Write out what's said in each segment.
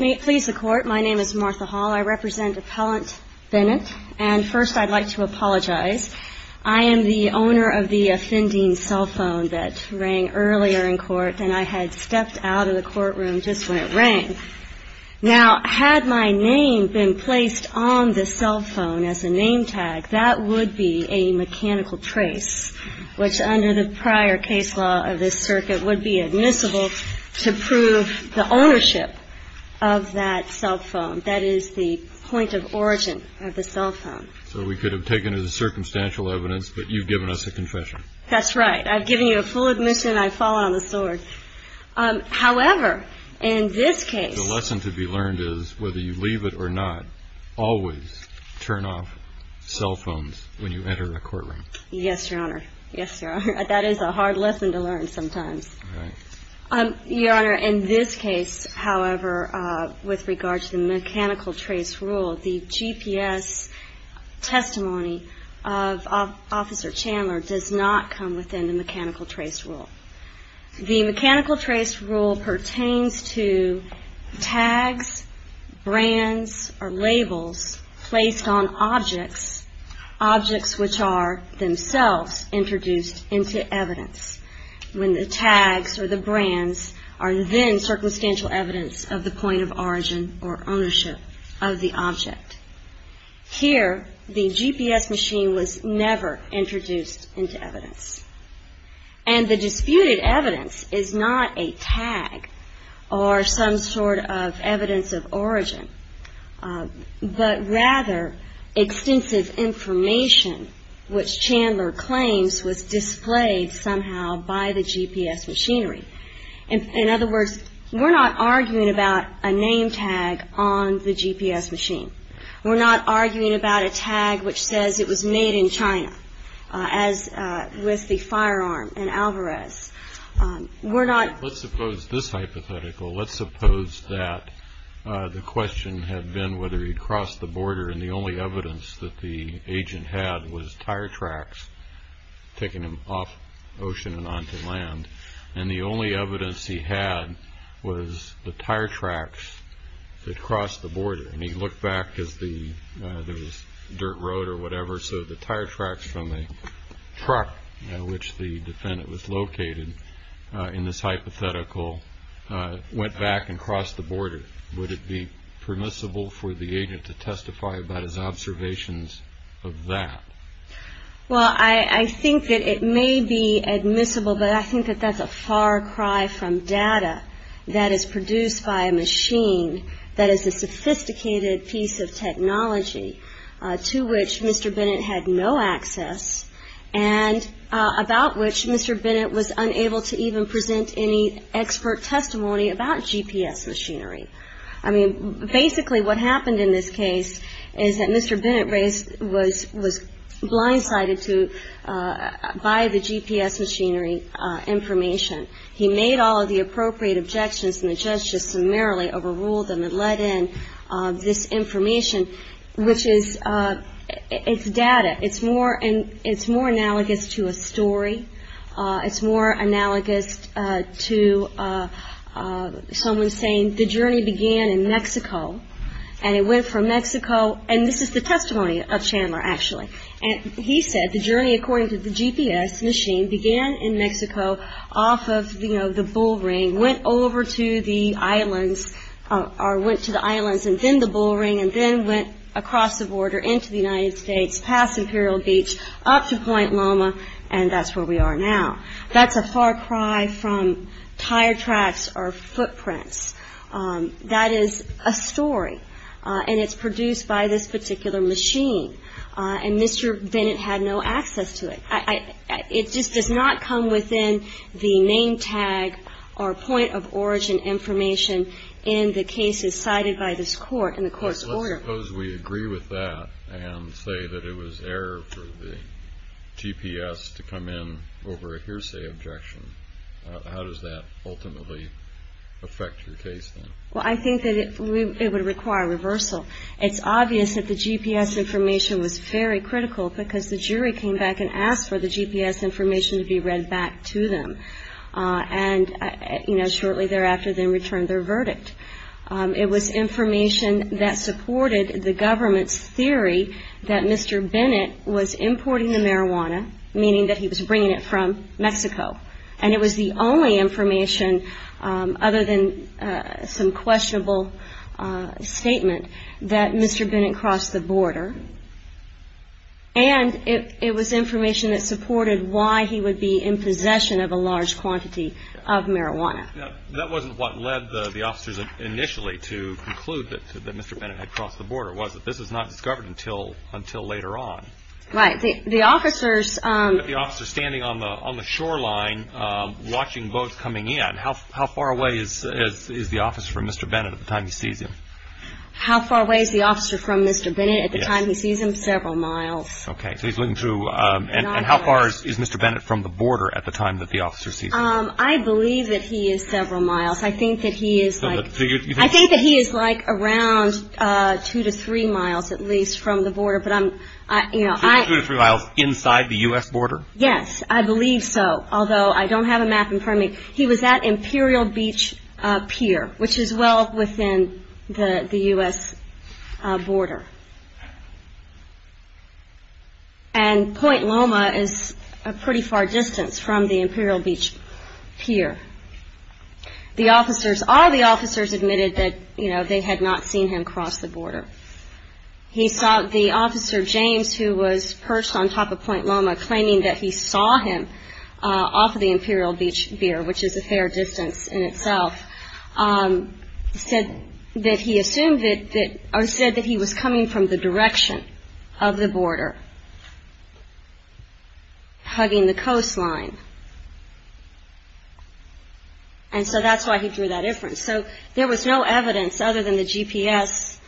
May it please the Court, my name is Martha Hall, I represent Appellant Bennett, and first I'd like to apologize. I am the owner of the offending cell phone that rang earlier in court, and I had stepped out of the courtroom just when it rang. Now, had my name been placed on the cell phone as a name tag, that would be a mechanical trace, which under the prior case law of this circuit would be admissible to prove the ownership of that cell phone. That is the point of origin of the cell phone. So we could have taken it as circumstantial evidence, but you've given us a confession. That's right. I've given you a full admission. I fall on the sword. However, in this case. The lesson to be learned is whether you leave it or not, always turn off cell phones when you enter a courtroom. Yes, Your Honor. Yes, Your Honor. That is a hard lesson to learn sometimes. Right. Your Honor, in this case, however, with regard to the mechanical trace rule, the GPS testimony of Officer Chandler does not come within the mechanical trace rule. The mechanical trace rule pertains to tags, brands, or labels placed on objects, objects which are themselves introduced into evidence. When the tags or the brands are then circumstantial evidence of the point of origin or ownership of the object. Here, the GPS machine was never introduced into evidence. And the disputed evidence is not a tag or some sort of evidence of origin, but rather extensive information which Chandler claims was displayed somehow by the GPS machinery. In other words, we're not arguing about a name tag on the GPS machine. We're not arguing about a tag which says it was made in China. As with the firearm in Alvarez, we're not... Let's suppose this hypothetical. Let's suppose that the question had been whether he'd crossed the border and the only evidence that the agent had was tire tracks taking him off ocean and onto land. And the only evidence he had was the tire tracks that crossed the border. And he looked back because there was dirt road or whatever. So the tire tracks from the truck in which the defendant was located in this hypothetical went back and crossed the border. Would it be permissible for the agent to testify about his observations of that? Well, I think that it may be admissible, but I think that that's a far cry from data that is produced by a machine that is a sophisticated piece of technology to which Mr. Bennett had no access. And about which Mr. Bennett was unable to even present any expert testimony about GPS machinery. I mean, basically what happened in this case is that Mr. Bennett was blindsided by the GPS machinery information. He made all of the appropriate objections and the judge just summarily overruled them and let in this information, which is... It's data. It's more analogous to a story. It's more analogous to someone saying the journey began in Mexico and it went from Mexico. And this is the testimony of Chandler, actually. And he said the journey, according to the GPS machine, began in Mexico off of the Bull Ring, went over to the islands or went to the islands and then the Bull Ring, and then went across the border into the United States, past Imperial Beach, up to Point Loma, and that's where we are now. That's a far cry from tire tracks or footprints. That is a story. And it's produced by this particular machine. And Mr. Bennett had no access to it. It just does not come within the name tag or point of origin information in the cases cited by this court in the court's order. Let's suppose we agree with that and say that it was error for the GPS to come in over a hearsay objection. How does that ultimately affect your case, then? Well, I think that it would require reversal. It's obvious that the GPS information was very critical because the jury came back and asked for the GPS information to be read back to them. And, you know, shortly thereafter they returned their verdict. It was information that supported the government's theory that Mr. Bennett was importing the marijuana, meaning that he was bringing it from Mexico. And it was the only information, other than some questionable statement, that Mr. Bennett crossed the border. And it was information that supported why he would be in possession of a large quantity of marijuana. That wasn't what led the officers initially to conclude that Mr. Bennett had crossed the border, was it? This was not discovered until later on. Right. But the officers standing on the shoreline watching boats coming in, how far away is the officer from Mr. Bennett at the time he sees him? How far away is the officer from Mr. Bennett at the time he sees him? Several miles. Okay. So he's looking through. And how far is Mr. Bennett from the border at the time that the officer sees him? I believe that he is several miles. I think that he is like around two to three miles at least from the border. Two to three miles inside the U.S. border? Yes, I believe so. Although I don't have a map in front of me. He was at Imperial Beach Pier, which is well within the U.S. border. And Point Loma is a pretty far distance from the Imperial Beach Pier. All the officers admitted that they had not seen him cross the border. The officer, James, who was perched on top of Point Loma claiming that he saw him off of the Imperial Beach Pier, which is a fair distance in itself, said that he assumed that he was coming from the direction of the border, hugging the coastline. And so that's why he drew that inference. So there was no evidence other than the GPS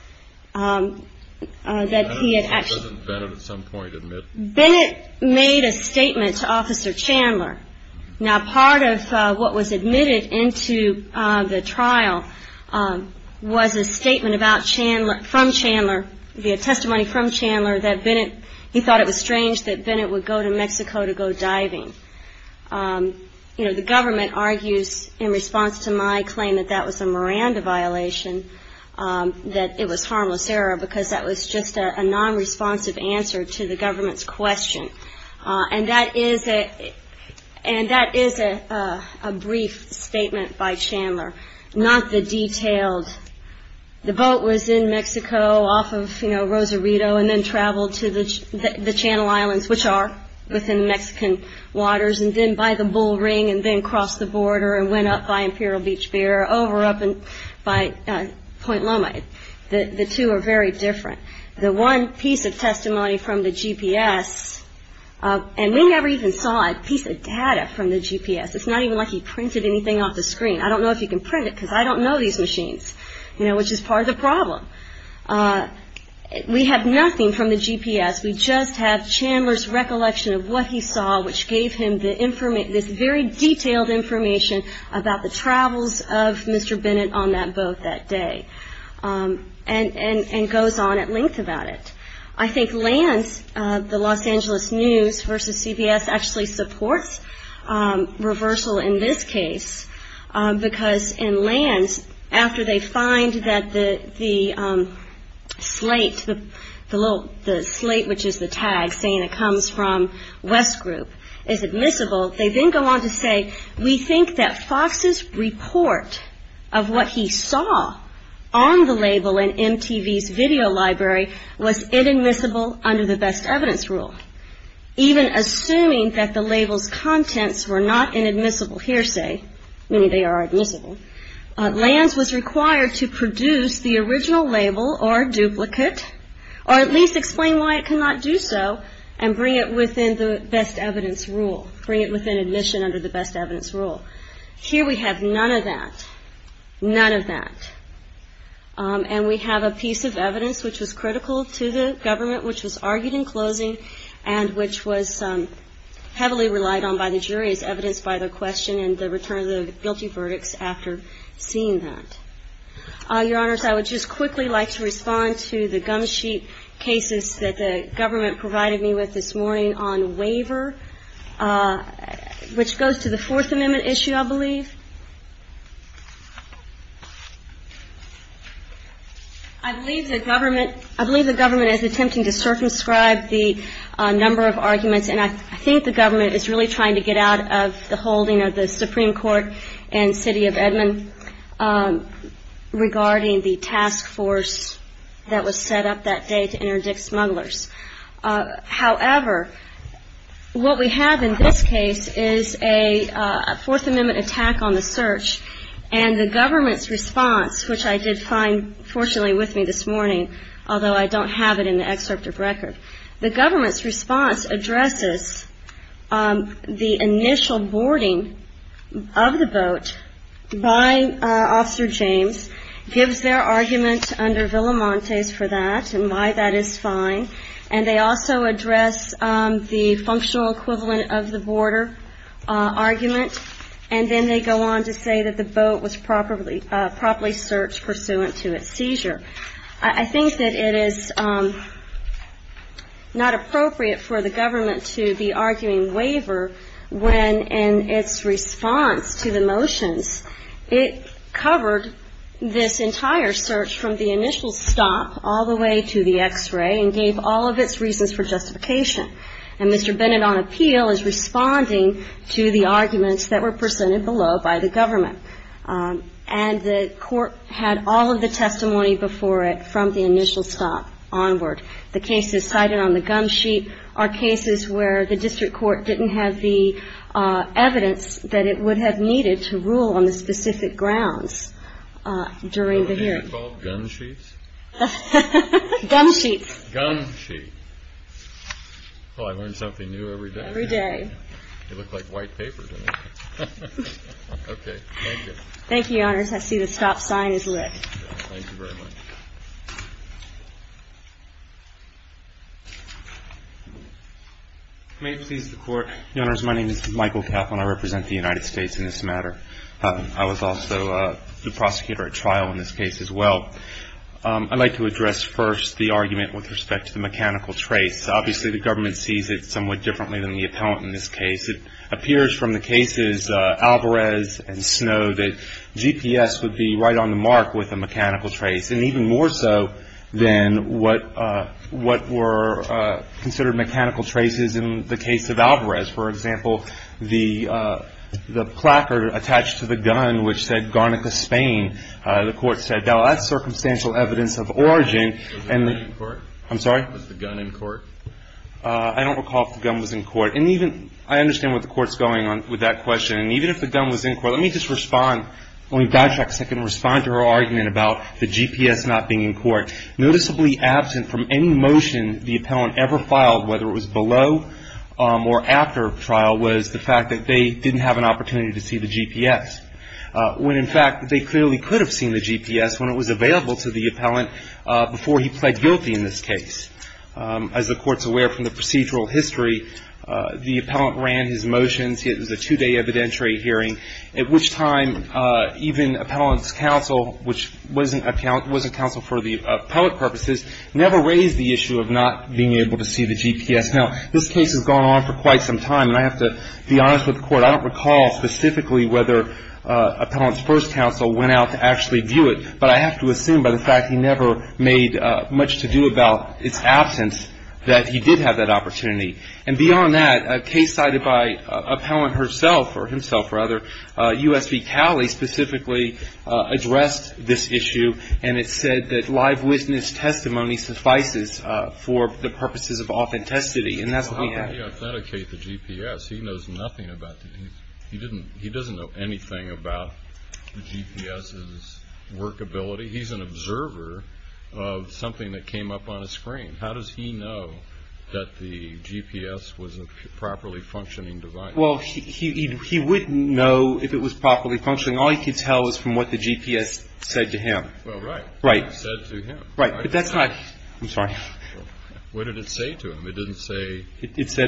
that he had actually- Doesn't Bennett at some point admit- Bennett made a statement to Officer Chandler. Now, part of what was admitted into the trial was a statement from Chandler, the testimony from Chandler that Bennett, he thought it was strange that Bennett would go to Mexico to go diving. You know, the government argues in response to my claim that that was a Miranda violation, that it was harmless error because that was just a non-responsive answer to the government's question. And that is a brief statement by Chandler, not the detailed- bull ring and then crossed the border and went up by Imperial Beach Pier, over up by Point Loma. The two are very different. The one piece of testimony from the GPS- And we never even saw a piece of data from the GPS. It's not even like he printed anything off the screen. I don't know if you can print it because I don't know these machines, you know, which is part of the problem. We have nothing from the GPS. We just have Chandler's recollection of what he saw, which gave him this very detailed information about the travels of Mr. Bennett on that boat that day, and goes on at length about it. I think LANS, the Los Angeles News versus CBS, actually supports reversal in this case because in LANS, after they find that the slate, the slate which is the tag saying it comes from West Group, is admissible, they then go on to say, we think that Fox's report of what he saw on the label in MTV's video library was inadmissible under the best evidence rule. Even assuming that the label's contents were not inadmissible hearsay, meaning they are admissible, LANS was required to produce the original label or duplicate, or at least explain why it cannot do so, and bring it within the best evidence rule, bring it within admission under the best evidence rule. Here we have none of that, none of that. And we have a piece of evidence which was critical to the government, which was argued in closing, and which was heavily relied on by the jury as evidence by the question and the return of the guilty verdicts after seeing that. Your Honors, I would just quickly like to respond to the gum sheet cases that the government provided me with this morning on waiver, which goes to the Fourth Amendment issue, I believe. I believe the government is attempting to circumscribe the number of arguments, and I think the government is really trying to get out of the holding of the Supreme Court and City of Edmond regarding the task force that was set up that day to interdict smugglers. However, what we have in this case is a Fourth Amendment attack on the search, and the government's response, which I did find fortunately with me this morning, although I don't have it in the excerpt of record, the government's response addresses the initial boarding of the boat by Officer James, gives their argument under Villamontes for that and why that is fine, and they also address the functional equivalent of the border argument, and then they go on to say that the boat was properly searched pursuant to its seizure. I think that it is not appropriate for the government to be arguing waiver when in its response to the motions, it covered this entire search from the initial stop all the way to the X-ray and gave all of its reasons for justification, and Mr. Bennett on appeal is responding to the arguments that were presented below by the government, and the court had all of the testimony before it from the initial stop onward. The cases cited on the gum sheet are cases where the district court didn't have the evidence that it would have needed to rule on the specific grounds during the hearing. Gumsheets? Gum sheets. Gum sheet. Well, I learn something new every day. Every day. You look like white paper to me. Okay. Thank you. Thank you, Your Honors. I see the stop sign is lit. Thank you very much. May it please the Court? Your Honors, my name is Michael Kaplan. I represent the United States in this matter. I was also the prosecutor at trial in this case as well. I'd like to address first the argument with respect to the mechanical trace. Obviously, the government sees it somewhat differently than the appellant in this case. It appears from the cases Alvarez and Snow that GPS would be right on the mark with a mechanical trace, and even more so than what were considered mechanical traces in the case of Alvarez. For example, the placard attached to the gun which said Garnica, Spain. The Court said, well, that's circumstantial evidence of origin. Was the gun in court? I'm sorry? Was the gun in court? I don't recall if the gun was in court. I understand what the Court's going on with that question. Even if the gun was in court, let me just respond. Let me backtrack a second and respond to her argument about the GPS not being in court. Noticeably absent from any motion the appellant ever filed, whether it was below or after trial, was the fact that they didn't have an opportunity to see the GPS, when in fact they clearly could have seen the GPS when it was available to the appellant before he pled guilty in this case. As the Court's aware from the procedural history, the appellant ran his motions. It was a two-day evidentiary hearing, at which time even appellant's counsel, which was a counsel for the appellant purposes, never raised the issue of not being able to see the GPS. Now, this case has gone on for quite some time, and I have to be honest with the Court. I don't recall specifically whether appellant's first counsel went out to actually view it, but I have to assume by the fact he never made much to do about its absence that he did have that opportunity. And beyond that, a case cited by appellant herself, or himself rather, U.S. v. Cowley specifically addressed this issue, and it said that live witness testimony suffices for the purposes of authenticity, and that's what we have. Well, how did he authenticate the GPS? He knows nothing about it. He doesn't know anything about the GPS's workability. He's an observer of something that came up on a screen. How does he know that the GPS was a properly functioning device? Well, he wouldn't know if it was properly functioning. All he could tell was from what the GPS said to him. Well, right. Right. Said to him. Right. But that's not – I'm sorry. What did it say to him? It didn't say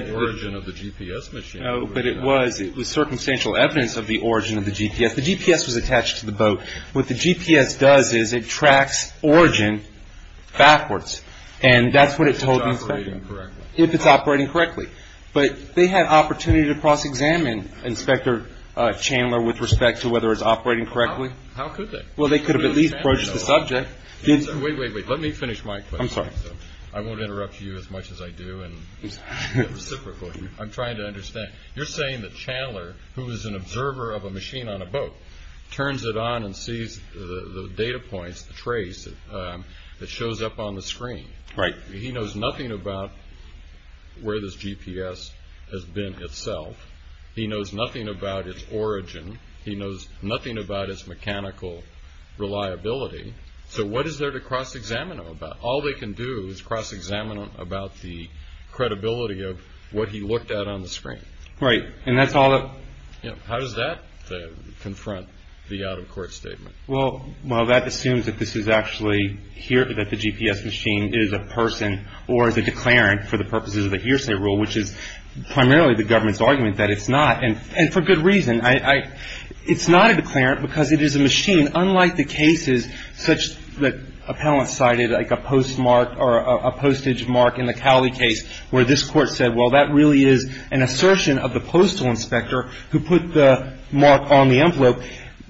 the origin of the GPS machine. No, but it was. It was circumstantial evidence of the origin of the GPS. The GPS was attached to the boat. What the GPS does is it tracks origin backwards, and that's what it told the inspector. If it's operating correctly. If it's operating correctly. But they had opportunity to cross-examine Inspector Chandler with respect to whether it's operating correctly. How could they? Well, they could have at least approached the subject. Wait, wait, wait. Let me finish my question. I'm sorry. I won't interrupt you as much as I do, and I'm trying to understand. You're saying that Chandler, who is an observer of a machine on a boat, turns it on and sees the data points, the trace that shows up on the screen. Right. He knows nothing about where this GPS has been itself. He knows nothing about its origin. He knows nothing about its mechanical reliability. So what is there to cross-examine him about? All they can do is cross-examine him about the credibility of what he looked at on the screen. Right. And that's all that. How does that confront the out-of-court statement? Well, that assumes that this is actually here, that the GPS machine is a person or is a declarant for the purposes of a hearsay rule, which is primarily the government's argument that it's not. And for good reason. It's not a declarant because it is a machine, unlike the cases such that appellants cited, like a postmark or a postage mark in the Cowley case where this Court said, well, that really is an assertion of the postal inspector who put the mark on the envelope.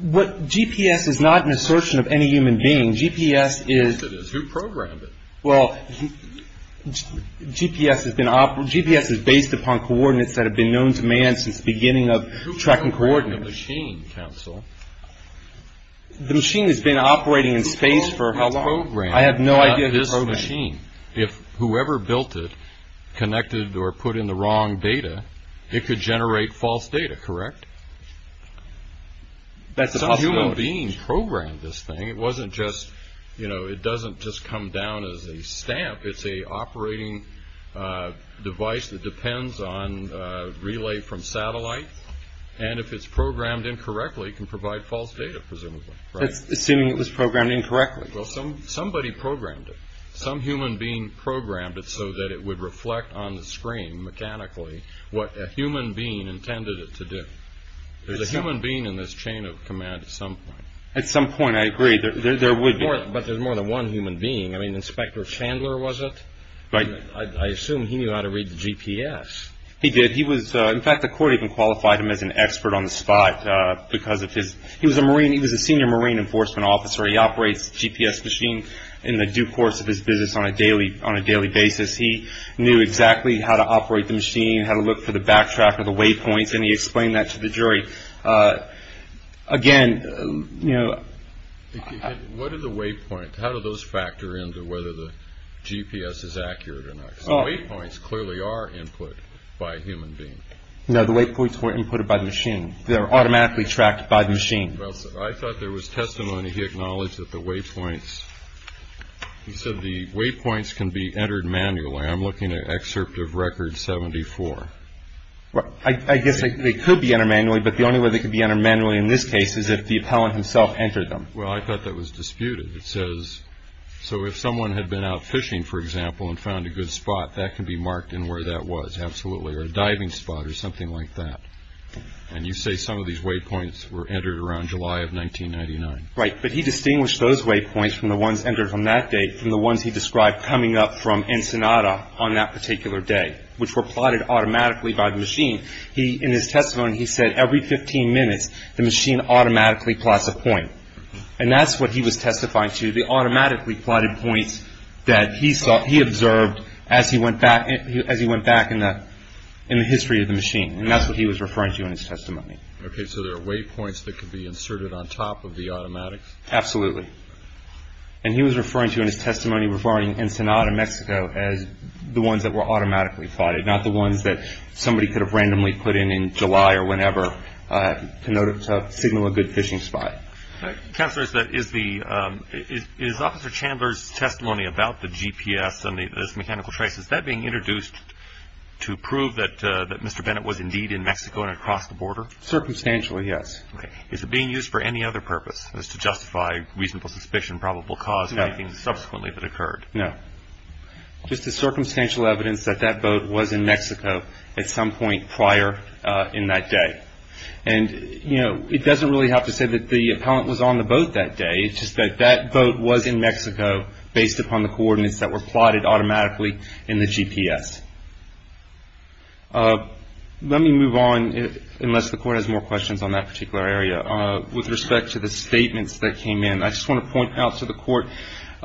GPS is not an assertion of any human being. GPS is – Who programmed it? Well, GPS has been – GPS is based upon coordinates that have been known to man since the beginning of tracking correlations. Coordinates? The machine, counsel. The machine has been operating in space for how long? I have no idea who programmed it. If whoever built it connected or put in the wrong data, it could generate false data, correct? That's a possibility. Some human being programmed this thing. It wasn't just – you know, it doesn't just come down as a stamp. It's an operating device that depends on relay from satellite. And if it's programmed incorrectly, it can provide false data, presumably, right? Assuming it was programmed incorrectly. Well, somebody programmed it. Some human being programmed it so that it would reflect on the screen mechanically what a human being intended it to do. There's a human being in this chain of command at some point. At some point, I agree. There would be. But there's more than one human being. I mean, Inspector Chandler was it? Right. I assume he knew how to read the GPS. He did. He was – in fact, the court even qualified him as an expert on the spot because of his – he was a marine. He was a senior marine enforcement officer. He operates a GPS machine in the due course of his business on a daily basis. He knew exactly how to operate the machine, how to look for the backtrack or the waypoints, and he explained that to the jury. Again, you know – What are the waypoints? How do those factor into whether the GPS is accurate or not? The waypoints clearly are input by a human being. No, the waypoints were input by the machine. They're automatically tracked by the machine. I thought there was testimony he acknowledged that the waypoints – he said the waypoints can be entered manually. I'm looking at excerpt of Record 74. I guess they could be entered manually, but the only way they could be entered manually in this case is if the appellant himself entered them. Well, I thought that was disputed. It says, so if someone had been out fishing, for example, and found a good spot, that can be marked in where that was, absolutely, or a diving spot or something like that. And you say some of these waypoints were entered around July of 1999. Right, but he distinguished those waypoints from the ones entered from that date from the ones he described coming up from Ensenada on that particular day, which were plotted automatically by the machine. In his testimony, he said every 15 minutes the machine automatically plots a point, and that's what he was testifying to. They automatically plotted points that he observed as he went back in the history of the machine, and that's what he was referring to in his testimony. Okay, so there are waypoints that could be inserted on top of the automatics? Absolutely, and he was referring to in his testimony regarding Ensenada, Mexico, as the ones that were automatically plotted, not the ones that somebody could have randomly put in in July or whenever to signal a good fishing spot. Counselor, is Officer Chandler's testimony about the GPS and those mechanical traces, that being introduced to prove that Mr. Bennett was indeed in Mexico and across the border? Circumstantially, yes. Okay, is it being used for any other purpose, as to justify reasonable suspicion, probable cause of anything subsequently that occurred? No. Just the circumstantial evidence that that boat was in Mexico at some point prior in that day. And, you know, it doesn't really have to say that the appellant was on the boat that day. It's just that that boat was in Mexico based upon the coordinates that were plotted automatically in the GPS. Let me move on, unless the Court has more questions on that particular area, with respect to the statements that came in. I just want to point out to the Court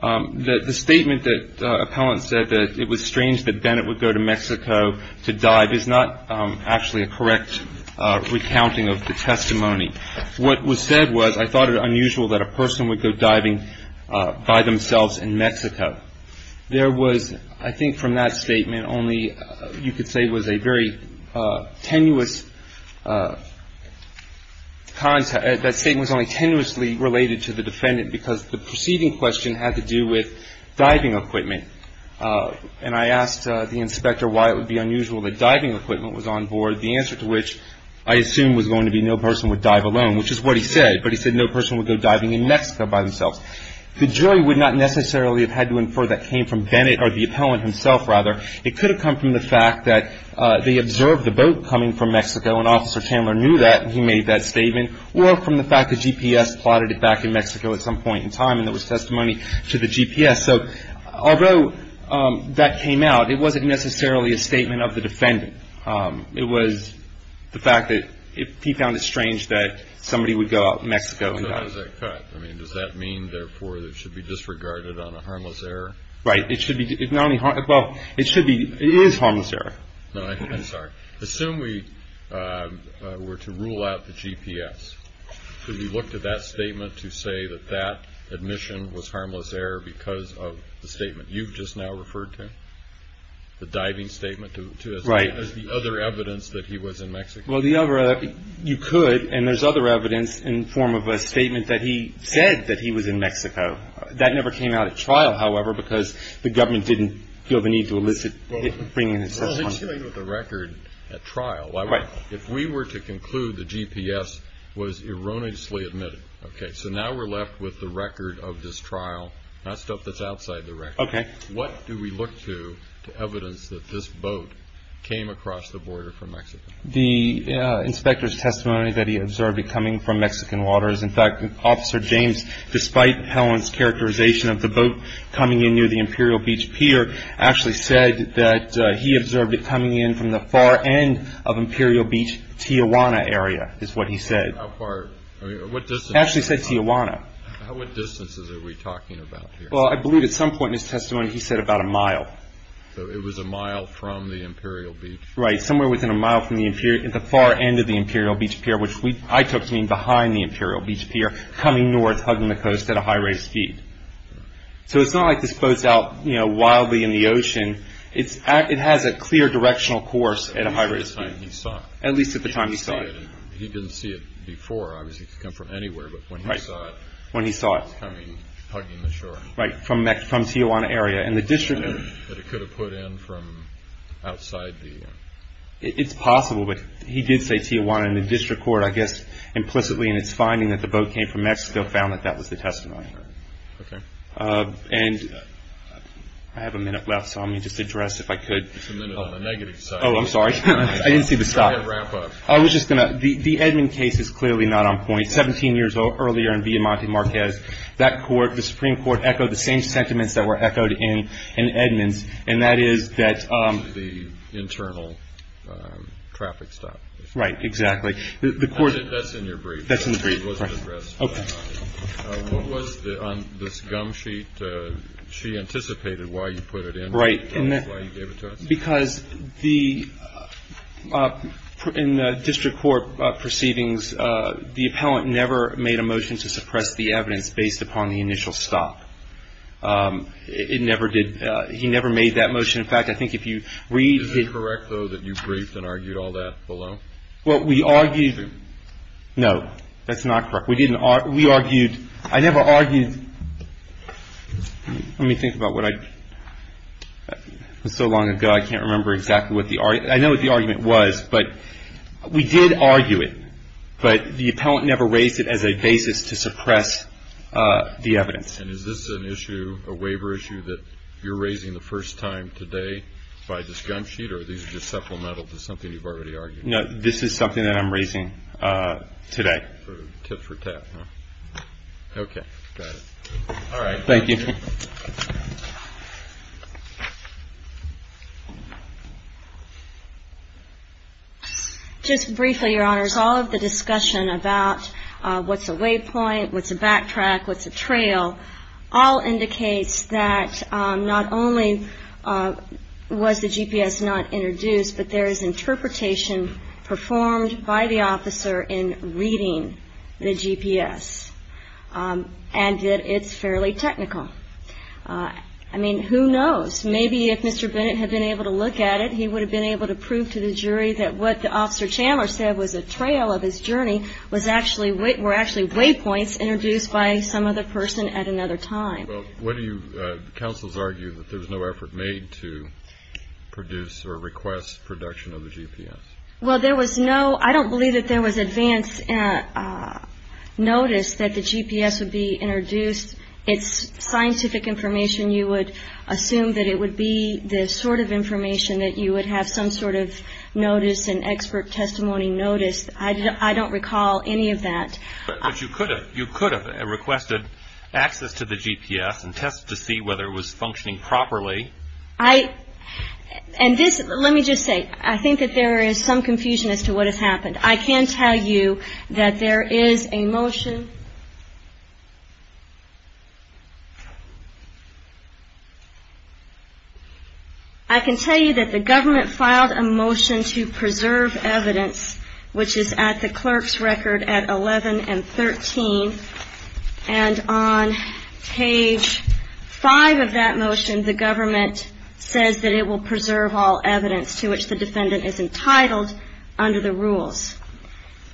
that the statement that appellant said, that it was strange that Bennett would go to Mexico to dive, is not actually a correct recounting of the testimony. What was said was, I thought it unusual that a person would go diving by themselves in Mexico. There was, I think from that statement, only you could say was a very tenuous, that statement was only tenuously related to the defendant, because the preceding question had to do with diving equipment. And I asked the inspector why it would be unusual that diving equipment was on board, the answer to which, I assume, was going to be no person would dive alone, which is what he said. But he said no person would go diving in Mexico by themselves. The jury would not necessarily have had to infer that came from Bennett, or the appellant himself, rather. It could have come from the fact that they observed the boat coming from Mexico, and Officer Chandler knew that, and he made that statement, or from the fact that GPS plotted it back in Mexico at some point in time, and there was testimony to the GPS. So although that came out, it wasn't necessarily a statement of the defendant. It was the fact that he found it strange that somebody would go out to Mexico and dive. So how does that cut? I mean, does that mean, therefore, it should be disregarded on a harmless error? Right. It should be. Well, it should be. It is harmless error. No, I'm sorry. Assume we were to rule out the GPS. Could we look to that statement to say that that admission was harmless error because of the statement you've just now referred to, the diving statement, as the other evidence that he was in Mexico? Well, you could, and there's other evidence in the form of a statement that he said that he was in Mexico. That never came out at trial, however, because the government didn't feel the need to elicit it. Well, it was elicited with a record at trial. Right. If we were to conclude the GPS was erroneously admitted, okay, so now we're left with the record of this trial, not stuff that's outside the record. Okay. What do we look to to evidence that this boat came across the border from Mexico? The inspector's testimony that he observed it coming from Mexican waters. In fact, Officer James, despite Helen's characterization of the boat coming in near the Imperial Beach Pier, actually said that he observed it coming in from the far end of Imperial Beach, Tijuana area, is what he said. How far? Actually, he said Tijuana. What distances are we talking about here? Well, I believe at some point in his testimony he said about a mile. So it was a mile from the Imperial Beach? Right, somewhere within a mile from the far end of the Imperial Beach Pier, which I took to mean behind the Imperial Beach Pier, coming north, hugging the coast at a high rate of speed. So it's not like this boat's out wildly in the ocean. It has a clear directional course at a high rate of speed. At least at the time he saw it. At least at the time he saw it. He didn't see it before. Obviously, it could come from anywhere, but when he saw it. Right, when he saw it. It was coming, hugging the shore. Right, from Tijuana area, and the district. But it could have put in from outside the. It's possible, but he did say Tijuana in the district court, I guess implicitly in its finding that the boat came from Mexico, found that that was the testimony. Okay. And I have a minute left, so let me just address, if I could. It's a minute on the negative side. Oh, I'm sorry. I didn't see the stop. I was just going to. The Edmund case is clearly not on point. Seventeen years earlier in Villamonte Marquez, that court, the Supreme Court, echoed the same sentiments that were echoed in Edmund's, and that is that. The internal traffic stop. Right, exactly. The court. That's in your brief. That's in the brief. Okay. What was on this gum sheet? She anticipated why you put it in. Right. That's why you gave it to us. Because the, in district court proceedings, the appellant never made a motion to suppress the evidence based upon the initial stop. It never did. He never made that motion. In fact, I think if you read. Is it correct, though, that you briefed and argued all that below? Well, we argued. No, that's not correct. We argued. I never argued. Let me think about what I. It was so long ago, I can't remember exactly what the argument. I know what the argument was, but we did argue it. But the appellant never raised it as a basis to suppress the evidence. And is this an issue, a waiver issue, that you're raising the first time today by this gum sheet? Or are these just supplemental to something you've already argued? No, this is something that I'm raising today. Tip for tap, huh? Okay. Got it. All right. Thank you. Just briefly, Your Honors. All of the discussion about what's a waypoint, what's a backtrack, what's a trail, all indicates that not only was the GPS not introduced, but there is interpretation performed by the officer in reading the GPS and that it's fairly technical. I mean, who knows? Maybe if Mr. Bennett had been able to look at it, he would have been able to prove to the jury that what Officer Chandler said was a trail of his journey were actually waypoints introduced by some other person at another time. Well, what do you counsels argue, that there was no effort made to produce or request production of the GPS? Well, there was no. I don't believe that there was advance notice that the GPS would be introduced. It's scientific information. You would assume that it would be the sort of information that you would have some sort of notice and expert testimony notice. I don't recall any of that. But you could have requested access to the GPS and tested to see whether it was functioning properly. And this, let me just say, I think that there is some confusion as to what has happened. I can tell you that there is a motion. I can tell you that the government filed a motion to preserve evidence, which is at the clerk's record at 11 and 13. And on page 5 of that motion, the government says that it will preserve all evidence to which the defendant is entitled under the rules.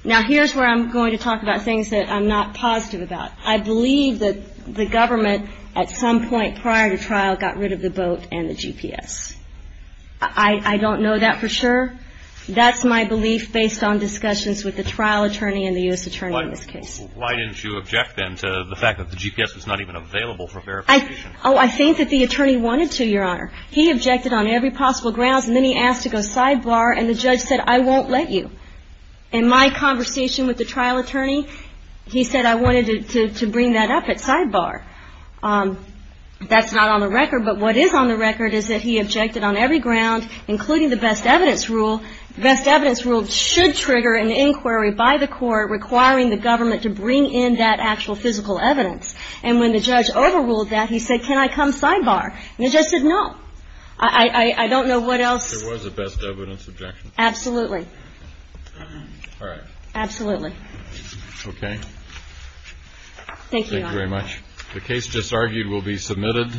Now, here's where I'm going to talk about things that I'm not positive about. I believe that the government at some point prior to trial got rid of the boat and the GPS. I don't know that for sure. That's my belief based on discussions with the trial attorney and the U.S. attorney in this case. Why didn't you object then to the fact that the GPS was not even available for verification? Oh, I think that the attorney wanted to, Your Honor. He objected on every possible grounds, and then he asked to go sidebar, and the judge said, I won't let you. In my conversation with the trial attorney, he said, I wanted to bring that up at sidebar. That's not on the record. But what is on the record is that he objected on every ground, including the best evidence rule. The best evidence rule should trigger an inquiry by the court requiring the government to bring in that actual physical evidence. And when the judge overruled that, he said, can I come sidebar? And the judge said, no. I don't know what else. It was a best evidence objection. Absolutely. All right. Absolutely. Okay. Thank you, Your Honor. Thank you very much. The case just argued will be submitted.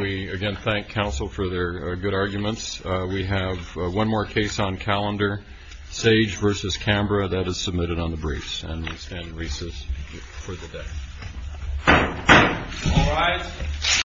We, again, thank counsel for their good arguments. We have one more case on calendar, Sage v. Canberra. That is submitted on the briefs, and we stand in recess for the day. All rise.